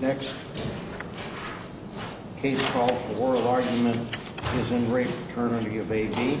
Next. Case call for oral argument is in great Paternity of A.B. Case call for oral argument is in great Paternity of A.B.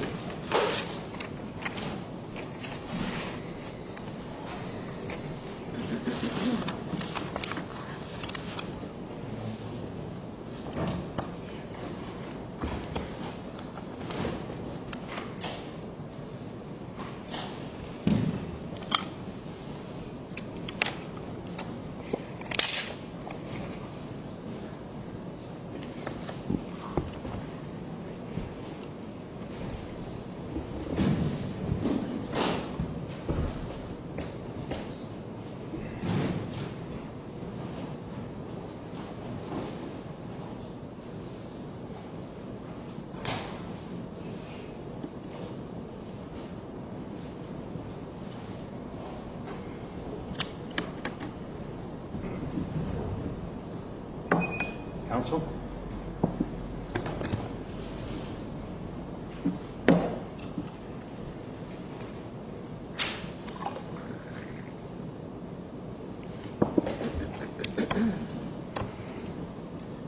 Counsel.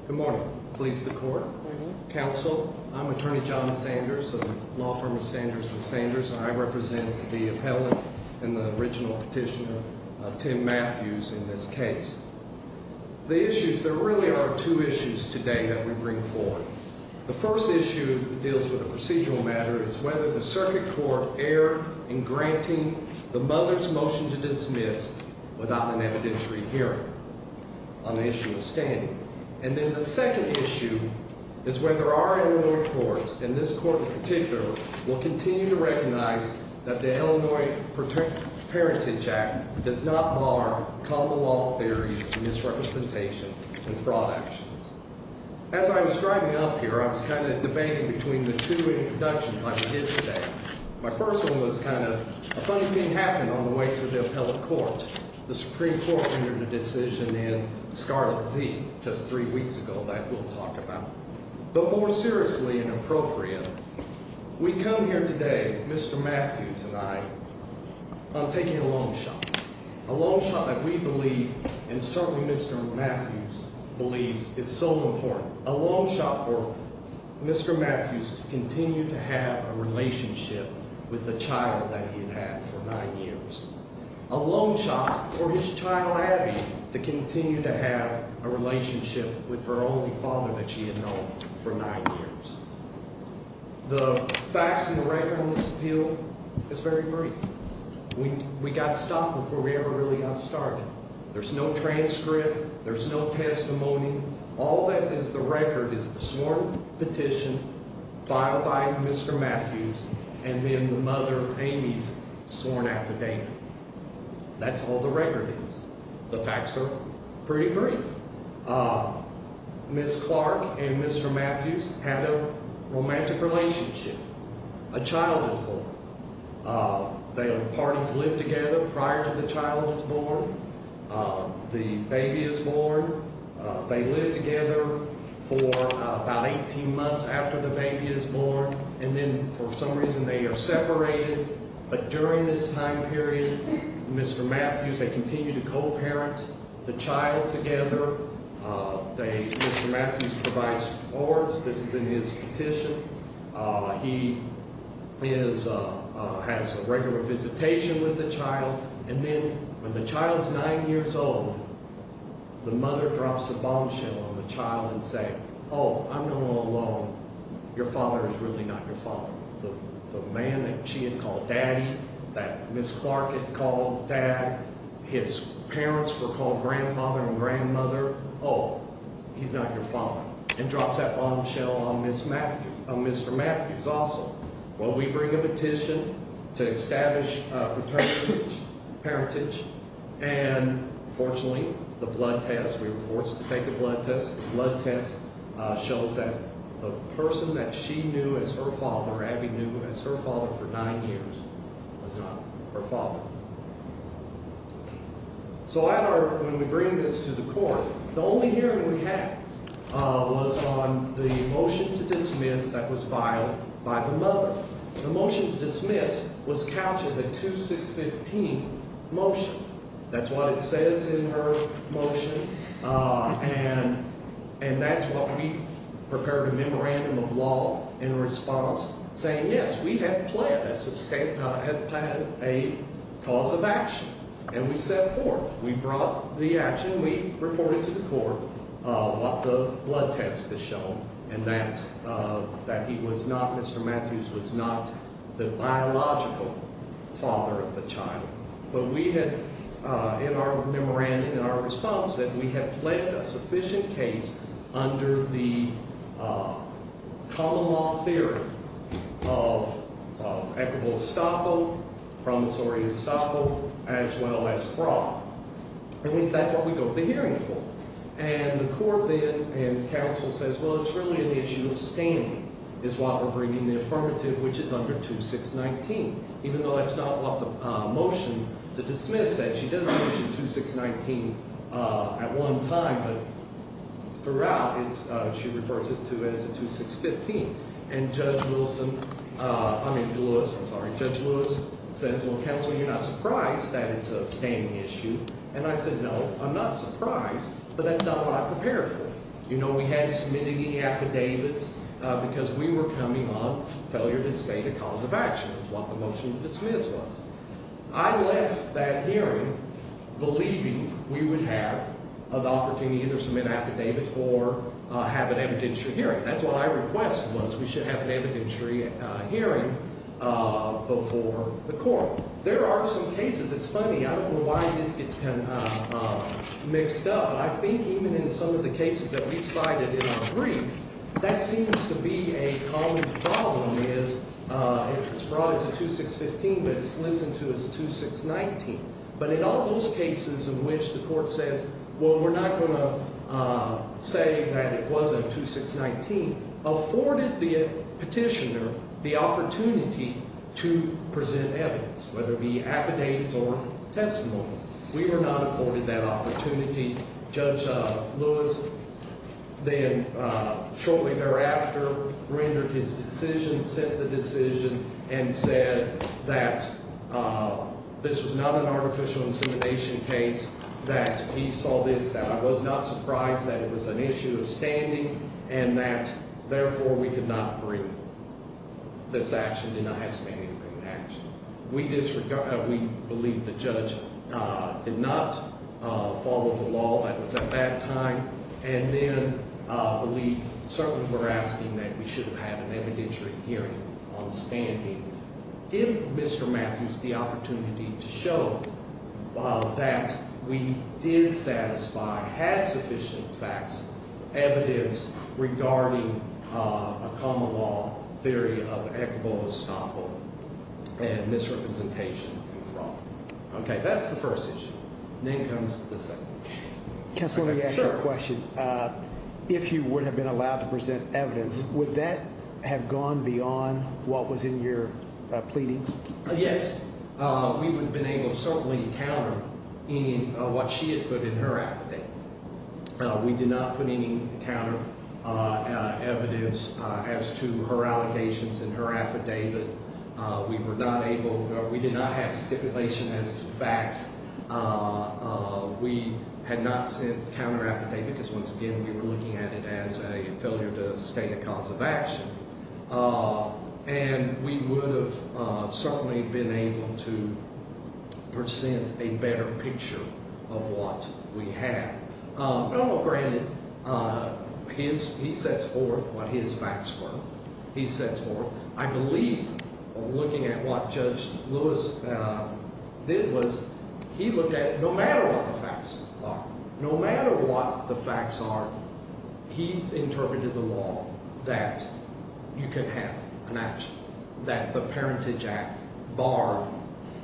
Good morning. Police, the court. Counsel, I'm attorney John Sanders of law firm of Sanders and Sanders. I represent the appellant and the original petitioner, Tim Matthews, in this case. The issues, there really are two issues today that we bring forward. The first issue deals with a procedural matter is whether the circuit court erred in granting the mother's motion to dismiss without an evidentiary hearing on the issue of standing. And then the second issue is whether our Illinois courts, and this court in particular, will continue to recognize that the Illinois Parentage Act does not mark Commonwealth theories of misrepresentation and fraud actions. As I was driving up here, I was kind of debating between the two introductions I did today. My first one was kind of a funny thing happened on the way to the appellate court. The Supreme Court entered a decision in Scarlet Z just three weeks ago that we'll talk about. But more seriously and appropriate, we come here today, Mr. Matthews and I, on taking a long shot. A long shot that we believe and certainly Mr. Matthews believes is so important. A long shot for Mr. Matthews to continue to have a relationship with the child that he had had for nine years. A long shot for his child, Abby, to continue to have a relationship with her only father that she had known for nine years. The facts and the record on this appeal is very brief. We got stopped before we ever really got started. There's no transcript. There's no testimony. All that is the record is the sworn petition filed by Mr. Matthews and then the mother, Amy's, sworn affidavit. That's all the record is. The facts are pretty brief. Ms. Clark and Mr. Matthews had a romantic relationship. A child was born. The parties lived together prior to the child was born. The baby is born. They live together for about 18 months after the baby is born. And then for some reason they are separated. But during this time period, Mr. Matthews, they continue to co-parent the child together. Mr. Matthews provides support. This is in his petition. He has a regular visitation with the child. And then when the child is nine years old, the mother drops a bombshell on the child and says, oh, I'm the one alone. Your father is really not your father. The man that she had called daddy, that Ms. Clark had called dad, his parents were called grandfather and grandmother, oh, he's not your father. And drops that bombshell on Mr. Matthews also. Well, we bring a petition to establish paternity, parentage, and fortunately the blood test, we were forced to take a blood test. The blood test shows that the person that she knew as her father, Abby knew as her father for nine years, was not her father. So when we bring this to the court, the only hearing we had was on the motion to dismiss that was filed by the mother. The motion to dismiss was couched in the 2615 motion. That's what it says in her motion. And that's what we prepared a memorandum of law in response saying, yes, we have planned a cause of action. And we set forth. We brought the action. We reported to the court what the blood test has shown and that he was not, Mr. Matthews was not the biological father of the child. But we had in our memorandum, in our response, that we had pledged a sufficient case under the common law theory of equitable estoppel, promissory estoppel, as well as fraud. At least that's what we go to the hearing for. And the court then and counsel says, well, it's really an issue of standing is why we're bringing the affirmative, which is under 2619. Even though that's not what the motion to dismiss said. She does mention 2619 at one time, but throughout, she refers it to as a 2615. And Judge Lewis says, well, counsel, you're not surprised that it's a standing issue. And I said, no, I'm not surprised, but that's not what I prepared for. You know, we hadn't submitted any affidavits because we were coming on failure to state a cause of action is what the motion to dismiss was. I left that hearing believing we would have an opportunity to either submit affidavits or have an evidentiary hearing. That's what I requested was we should have an evidentiary hearing before the court. There are some cases. It's funny. I don't know why this gets kind of mixed up. But I think even in some of the cases that we've cited in our brief, that seems to be a common problem is it's brought as a 2615, but it slips into as a 2619. But in all those cases in which the court says, well, we're not going to say that it was a 2619, afforded the petitioner the opportunity to present evidence, whether it be affidavits or testimony. We were not afforded that opportunity. Judge Lewis then shortly thereafter rendered his decision, sent the decision, and said that this was not an artificial insemination case, that he saw this, that I was not surprised, that it was an issue of standing, and that, therefore, we could not bring this action, did not have standing to bring an action. We believe the judge did not follow the law. That was at that time. And then we certainly were asking that we should have an evidentiary hearing on standing. Give Mr. Matthews the opportunity to show that we did satisfy, had sufficient facts, evidence regarding a common law theory of equitable estoppel and misrepresentation and fraud. Okay, that's the first issue. Then comes the second. Sir, question. If you would have been allowed to present evidence, would that have gone beyond what was in your pleading? Yes, we would have been able to certainly encounter what she had put in her affidavit. We did not put any counter evidence as to her allegations in her affidavit. We were not able. We did not have stipulation as to facts. We had not sent counter affidavit because, once again, we were looking at it as a failure to state a cause of action. And we would have certainly been able to present a better picture of what we had. But, all granted, he sets forth what his facts were. I believe looking at what Judge Lewis did was he looked at no matter what the facts are, no matter what the facts are, he interpreted the law that you can have an action, that the Parentage Act barred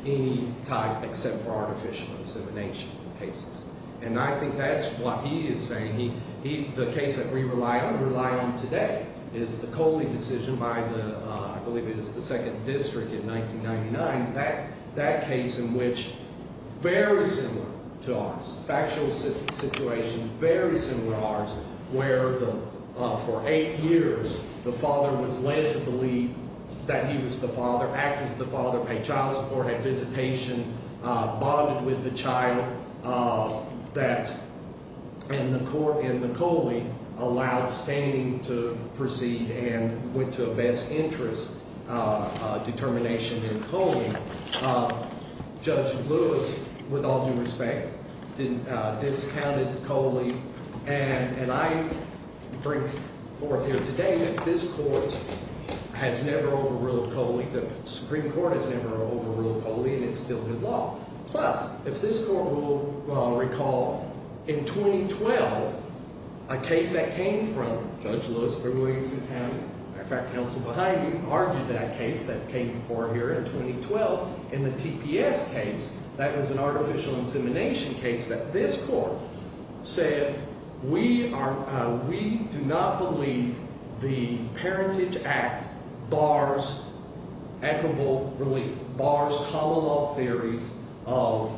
any type except for artificial insemination cases. And I think that's what he is saying. The case that we rely on, rely on today, is the Coley decision by the, I believe it was the 2nd District in 1999. That case in which, very similar to ours, factual situation, very similar to ours, where for eight years the father was led to believe that he was the father, act as the father, pay child support, have visitation, bonded with the child. And the Coley allowed standing to proceed and went to a best interest determination in Coley. Judge Lewis, with all due respect, discounted Coley. And I bring forth here today that this court has never overruled Coley. The Supreme Court has never overruled Coley, and it's still good law. Plus, if this court will recall, in 2012, a case that came from Judge Lewis for Williamson County, in fact, counsel behind you, argued that case that came before here in 2012 in the TPS case. That was an artificial insemination case that this court said, we do not believe the Parentage Act bars equitable relief, bars hollow law theories of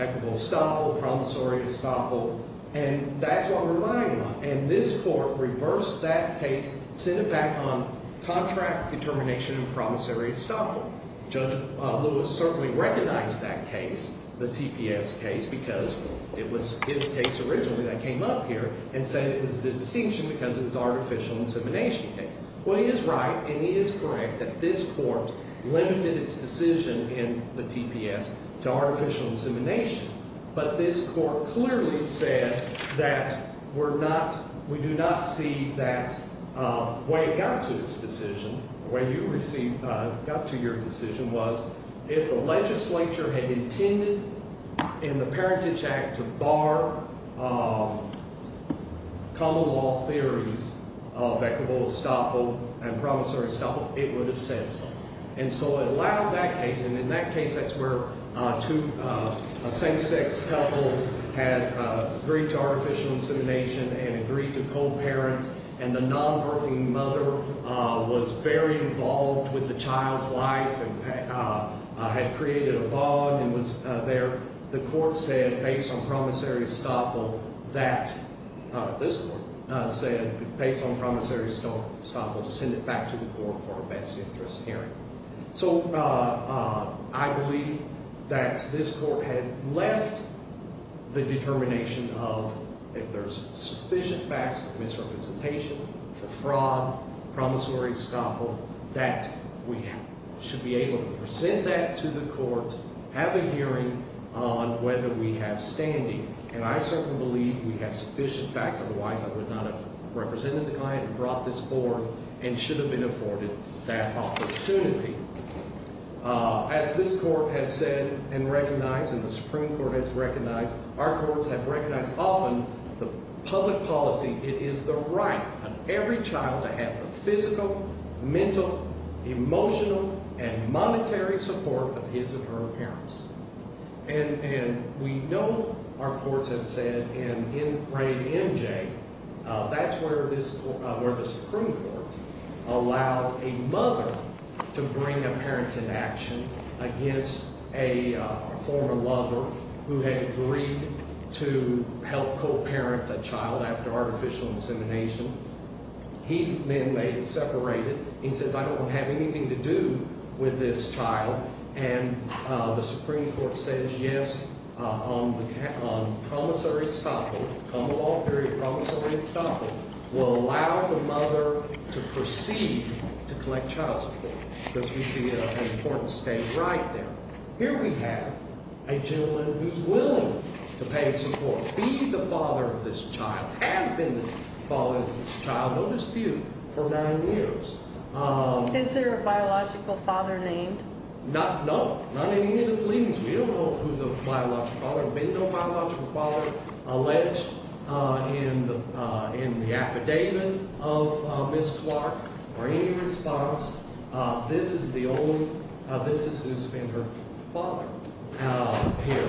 equitable estoppel, promissory estoppel. And that's what we're relying on. And this court reversed that case, sent it back on contract determination and promissory estoppel. Judge Lewis certainly recognized that case, the TPS case, because it was his case originally that came up here and said it was a distinction because it was an artificial insemination case. Well, he is right and he is correct that this court limited its decision in the TPS to artificial insemination. But this court clearly said that we're not, we do not see that way it got to its decision, the way you received, got to your decision was if the legislature had intended in the Parentage Act to bar common law theories of equitable estoppel and promissory estoppel, it would have said so. And so it allowed that case, and in that case that's where a same-sex couple had agreed to artificial insemination and agreed to co-parent, and the non-birthing mother was very involved with the child's life and had created a bond and was there. The court said based on promissory estoppel that, this court said based on promissory estoppel to send it back to the court for a best interest hearing. So I believe that this court had left the determination of if there's sufficient facts for misrepresentation, for fraud, promissory estoppel, that we should be able to present that to the court, have a hearing on whether we have standing. And I certainly believe we have sufficient facts, otherwise I would not have represented the client and brought this forward and should have been afforded that opportunity. As this court has said and recognized and the Supreme Court has recognized, our courts have recognized often the public policy, it is the right of every child to have the physical, mental, emotional, and monetary support of his or her parents. And we know our courts have said in grade MJ, that's where the Supreme Court allowed a mother to bring a parent in action against a former lover who had agreed to help co-parent the child after artificial insemination. He, men may separate it, he says I don't have anything to do with this child and the Supreme Court says yes, on promissory estoppel, humble all fury, promissory estoppel, will allow the mother to proceed to collect child support. Here we have a gentleman who's willing to pay support, be the father of this child, has been the father of this child, no dispute, for nine years. Is there a biological father named? No, not in any of the pleadings. We don't know who the biological father, there has been no biological father alleged in the affidavit of Ms. Clark or any response. This is the only, this has been her father here.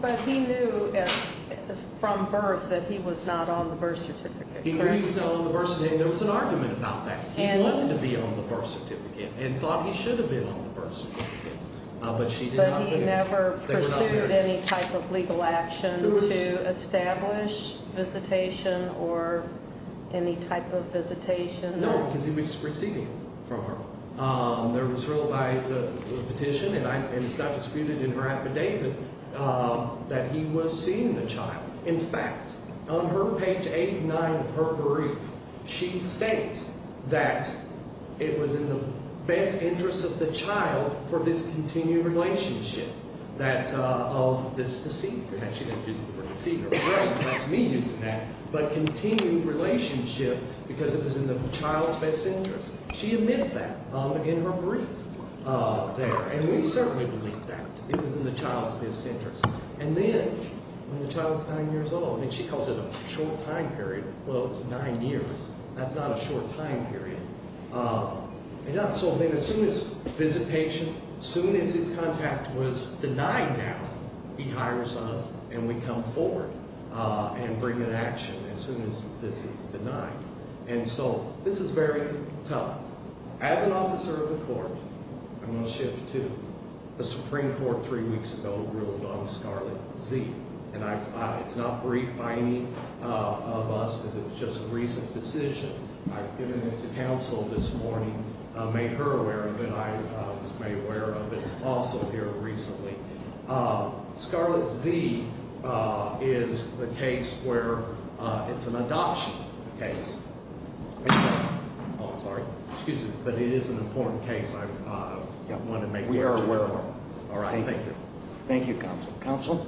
But he knew from birth that he was not on the birth certificate, correct? There was an argument about that. He wanted to be on the birth certificate and thought he should have been on the birth certificate. But he never pursued any type of legal action to establish visitation or any type of visitation? No, because he was proceeding from her. There was ruled by the petition, and it's not disputed in her affidavit, that he was seeing the child. In fact, on her page 89 of her brief, she states that it was in the best interest of the child for this continued relationship, that of this deceased. And she didn't use the word deceased, that's me using that, but continued relationship because it was in the child's best interest. She admits that in her brief there, and we certainly believe that it was in the child's best interest. And then when the child is nine years old, and she calls it a short time period, well it's nine years, that's not a short time period. And so then as soon as visitation, as soon as his contact was denied now, he hires us and we come forward and bring an action as soon as this is denied. And so this is very tough. As an officer of the court, I'm going to shift to the Supreme Court three weeks ago ruled on Scarlet Z. And it's not briefed by any of us because it's just a recent decision. I've given it to counsel this morning, made her aware of it, I was made aware of it also here recently. Scarlet Z is the case where it's an adoption case. I'm sorry, excuse me. But it is an important case, I wanted to make sure. We are aware of it. All right, thank you. Thank you, counsel. Counsel?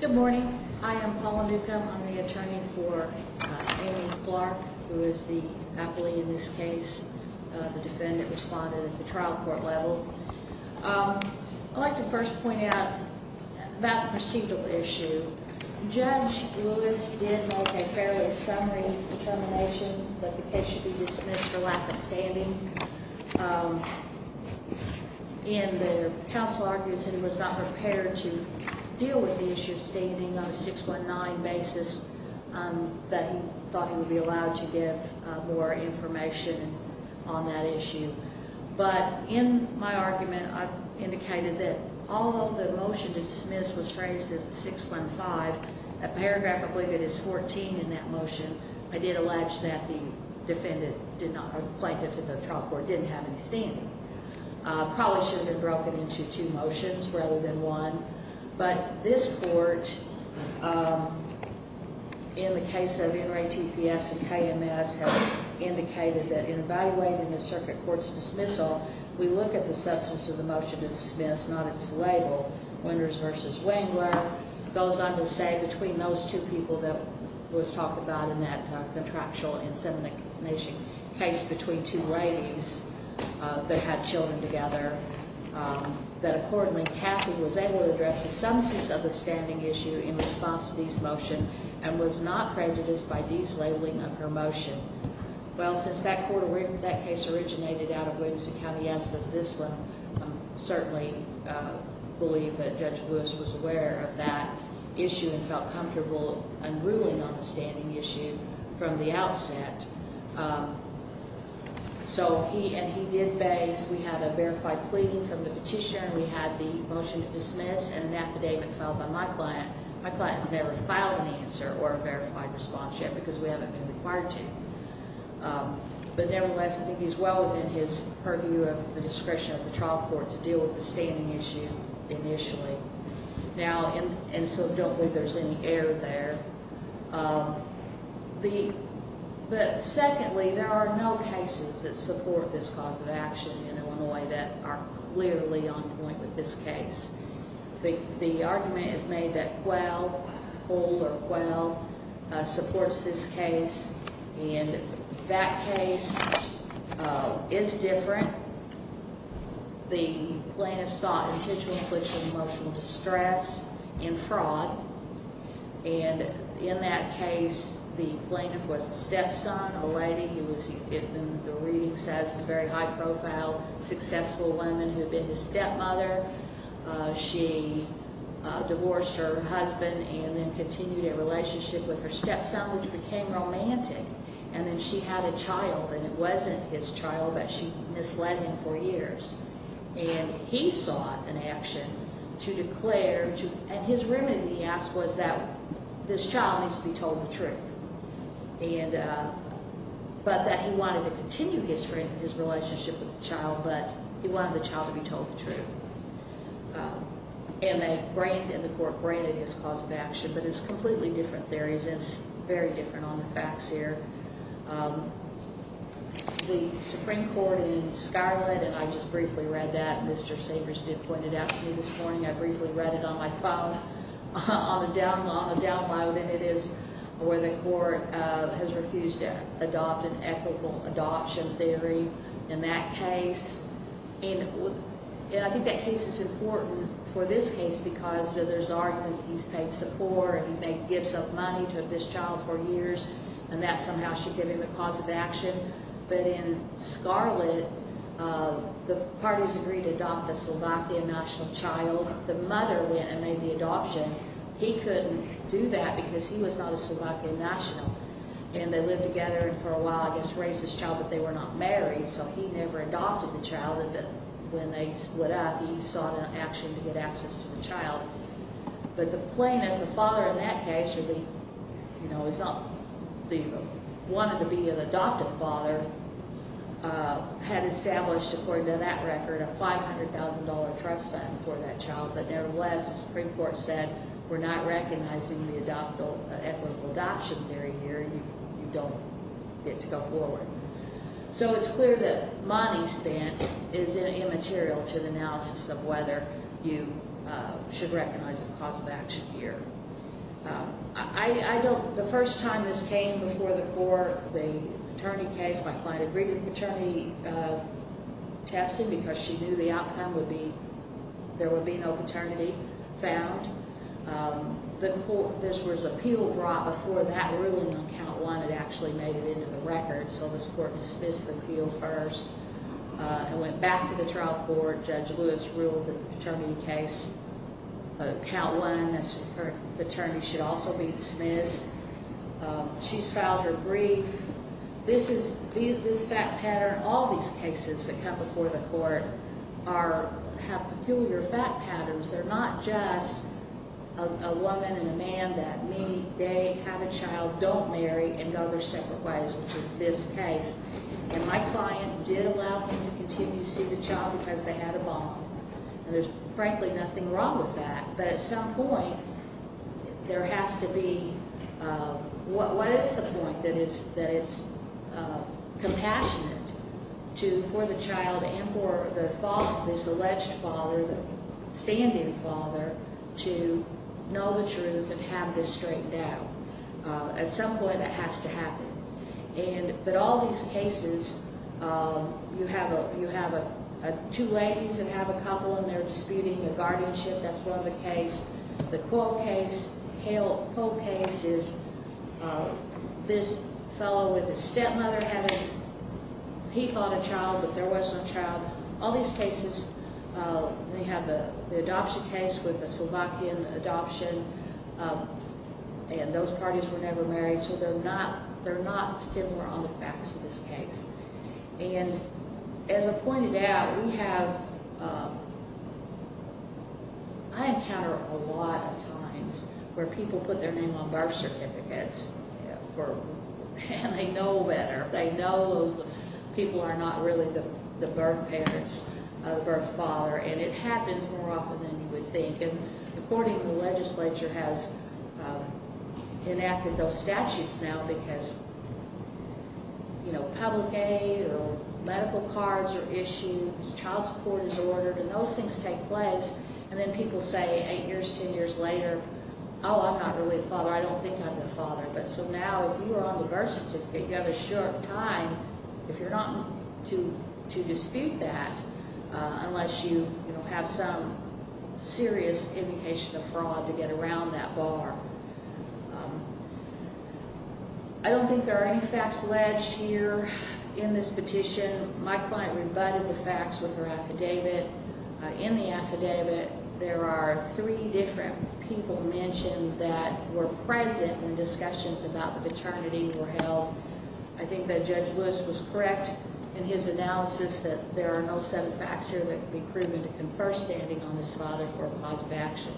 Good morning. Hi, I'm Paula Newcomb. I'm the attorney for Amy Clark, who is the appellee in this case. The defendant responded at the trial court level. I'd like to first point out about the procedural issue. Judge Lewis did make a fairly summary determination that the case should be dismissed for lack of standing. And the counsel argues that he was not prepared to deal with the issue of standing on a 619 basis, that he thought he would be allowed to give more information on that issue. But in my argument, I've indicated that although the motion to dismiss was phrased as a 615, a paragraph, I believe it is 14 in that motion, I did allege that the defendant did not, or the plaintiff in the trial court didn't have any standing. Probably should have been broken into two motions rather than one. But this court, in the case of NRA TPS and KMS, has indicated that in evaluating the circuit court's dismissal, we look at the substance of the motion to dismiss, not its label, Winters v. Wingler, goes on to say, between those two people that was talked about in that contractual incident case, between two ladies that had children together, that, accordingly, Kathy was able to address the substance of the standing issue in response to these motions and was not prejudiced by these labeling of her motion. Well, since that case originated out of Winters and KMS, I certainly believe that Judge Lewis was aware of that issue and felt comfortable unruling on the standing issue from the outset. So he did base, we had a verified plea from the petitioner, we had the motion to dismiss and an affidavit filed by my client. My client has never filed an answer or a verified response yet because we haven't been required to. But, nevertheless, I think he's well within his purview of the discretion of the trial court to deal with the standing issue initially. Now, and so don't think there's any error there. But, secondly, there are no cases that support this cause of action in Illinois that are clearly on point with this case. The argument is made that Quayle, Holder Quayle, supports this case. And that case is different. The plaintiff sought intentional infliction of emotional distress and fraud. And in that case, the plaintiff was a stepson, a lady. The reading says it's very high profile, successful woman who had been his stepmother. She divorced her husband and then continued a relationship with her stepson, which became romantic. And then she had a child, and it wasn't his child, but she misled him for years. And he sought an action to declare, and his remedy, he asked, was that this child needs to be told the truth. But that he wanted to continue his relationship with the child, but he wanted the child to be told the truth. And the court granted his cause of action, but it's completely different theories. It's very different on the facts here. The Supreme Court in Scarlet, and I just briefly read that. Mr. Sabres did point it out to me this morning. I briefly read it on my phone on a download, and it is where the court has refused to adopt an equitable adoption theory. In that case, and I think that case is important for this case, because there's argument that he's paid support, he gave some money to this child for years, and that somehow should give him a cause of action. But in Scarlet, the parties agreed to adopt a Slovakian national child. The mother went and made the adoption. He couldn't do that because he was not a Slovakian national. And they lived together for a while. I guess raised this child, but they were not married, so he never adopted the child. When they split up, he sought an action to get access to the child. But the plaintiff, the father in that case, wanted to be an adoptive father, had established, according to that record, a $500,000 trust fund for that child. But nevertheless, the Supreme Court said, we're not recognizing the equitable adoption theory here. You don't get to go forward. So it's clear that money spent is immaterial to the analysis of whether you should recognize a cause of action here. The first time this came before the court, the attorney case, my client agreed to the paternity testing because she knew the outcome would be, there would be no paternity found. This was appeal brought before that ruling on count one had actually made it into the record. So this court dismissed the appeal first and went back to the trial court. Judge Lewis ruled that the paternity case, count one, that her paternity should also be dismissed. She's filed her brief. This fact pattern, all these cases that come before the court have peculiar fact patterns. They're not just a woman and a man that meet, date, have a child, don't marry, and go their separate ways, which is this case. And my client did allow him to continue to see the child because they had a bond. And there's frankly nothing wrong with that. But at some point there has to be, what is the point that it's compassionate for the child and for the father, this alleged father, the standing father, to know the truth and have this straightened out? At some point that has to happen. But all these cases, you have two ladies that have a couple and they're disputing a guardianship. That's one of the cases. The Quill case is this fellow with his stepmother having, he thought a child, but there wasn't a child. All these cases, they have the adoption case with a Slovakian adoption, and those parties were never married. So they're not similar on the facts of this case. And as I pointed out, we have, I encounter a lot of times where people put their name on birth certificates and they know better. They know those people are not really the birth parents, the birth father, and it happens more often than you would think. And according to the legislature has enacted those statutes now because, you know, public aid or medical cards are issued, child support is ordered, and those things take place. And then people say eight years, ten years later, oh, I'm not really the father. I don't think I'm the father. But so now if you are on the birth certificate, you have a short time if you're not to dispute that unless you have some serious indication of fraud to get around that bar. I don't think there are any facts alleged here in this petition. My client rebutted the facts with her affidavit. In the affidavit, there are three different people mentioned that were present when discussions about the paternity were held. I think that Judge Lewis was correct in his analysis that there are no set of facts here that can be proven to confer standing on this father for a cause of action.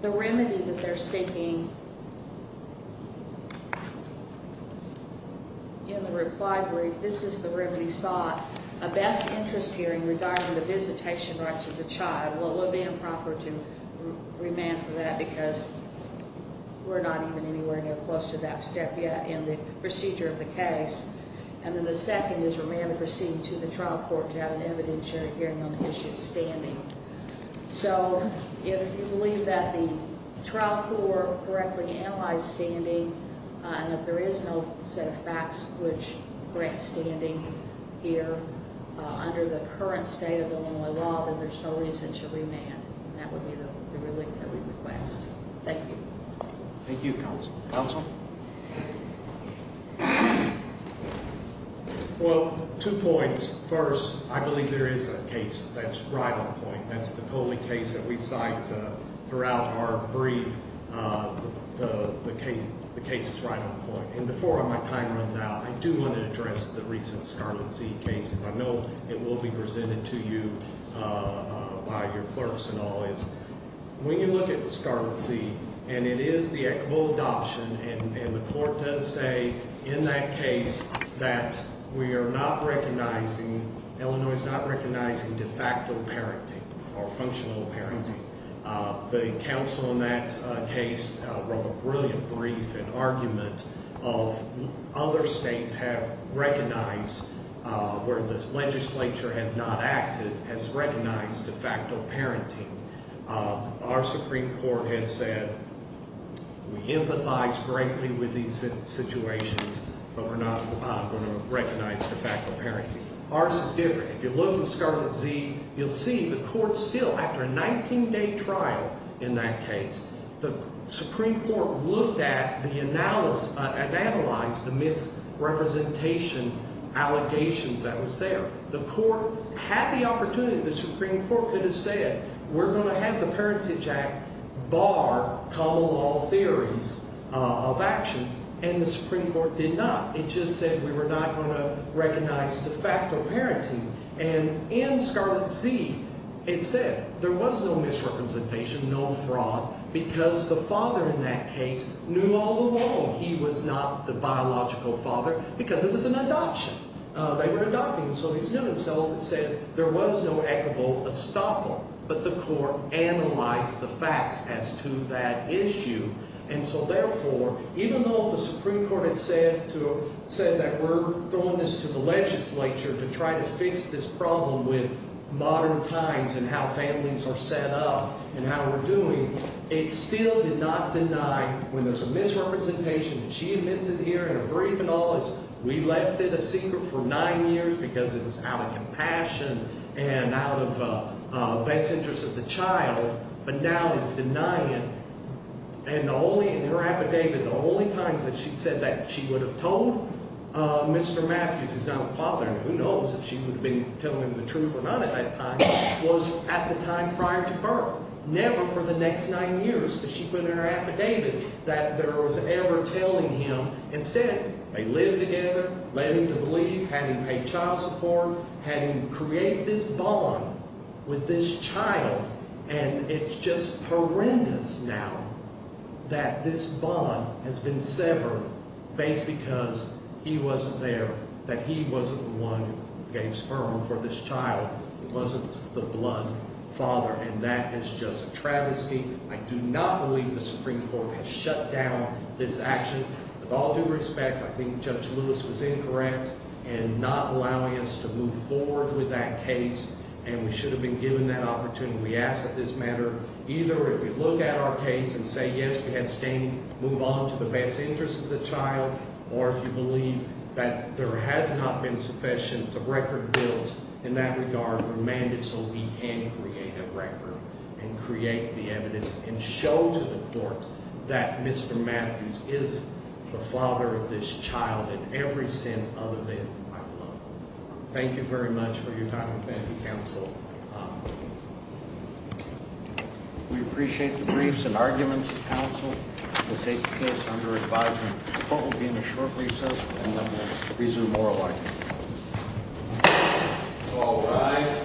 The remedy that they're seeking in the reply brief, this is the remedy sought. A best interest hearing regarding the visitation rights of the child. Well, it would be improper to remand for that because we're not even anywhere near close to that step yet in the procedure of the case. And then the second is remand to proceed to the trial court to have an evidentiary hearing on the issue of standing. So if you believe that the trial court correctly analyzed standing and that there is no set of facts which grant standing here under the current state of Illinois law, then there's no reason to remand. And that would be the relief that we request. Thank you. Thank you, Counsel. Counsel? Well, two points. First, I believe there is a case that's right on point. That's the Coley case that we cite throughout our brief. The case is right on point. And before my time runs out, I do want to address the recent Scarlett C case because I know it will be presented to you by your clerks and all. When you look at Scarlett C, and it is the equitable adoption, and the court does say in that case that we are not recognizing, Illinois is not recognizing de facto parenting or functional parenting. The counsel in that case wrote a brilliant brief and argument of other states have recognized where the legislature has not acted, has recognized de facto parenting. Our Supreme Court has said we empathize greatly with these situations, but we're not going to recognize de facto parenting. Ours is different. If you look at Scarlett Z, you'll see the court still, after a 19-day trial in that case, the Supreme Court looked at and analyzed the misrepresentation allegations that was there. The court had the opportunity, the Supreme Court could have said, we're going to have the Parentage Act bar common law theories of actions, and the Supreme Court did not. It just said we were not going to recognize de facto parenting. And in Scarlett Z, it said there was no misrepresentation, no fraud, because the father in that case knew all along he was not the biological father because it was an adoption. They were adopting, so he's known. So it said there was no equitable estoppel, but the court analyzed the facts as to that issue. And so therefore, even though the Supreme Court had said that we're throwing this to the legislature to try to fix this problem with modern times and how families are set up and how we're doing, it still did not deny when there's a misrepresentation, and she admits it here in her brief and all is we left it a secret for nine years because it was out of compassion and out of best interest of the child, but now it's denying it. And the only, in her affidavit, the only times that she said that she would have told Mr. Matthews, who's now a father, and who knows if she would have been telling him the truth or not at that time, was at the time prior to birth. Never for the next nine years, because she put in her affidavit that there was ever telling him. Instead, they lived together, led him to believe, had him pay child support, had him create this bond with this child, and it's just horrendous now that this bond has been severed based because he wasn't there, that he wasn't the one who gave sperm for this child. He wasn't the blood father, and that is just a travesty. I do not believe the Supreme Court has shut down this action. With all due respect, I think Judge Lewis was incorrect in not allowing us to move forward with that case, and we should have been given that opportunity. And we ask that this matter, either if we look at our case and say, yes, we have standing, move on to the best interest of the child, or if you believe that there has not been sufficient record built in that regard, remand it so we can create a record and create the evidence and show to the court that Mr. Matthews is the father of this child in every sense other than my own. Thank you very much for your time and your counsel. We appreciate the briefs and arguments of counsel. We'll take this under advisement. The court will be in a short recess, and then we'll resume oral arguments. All rise.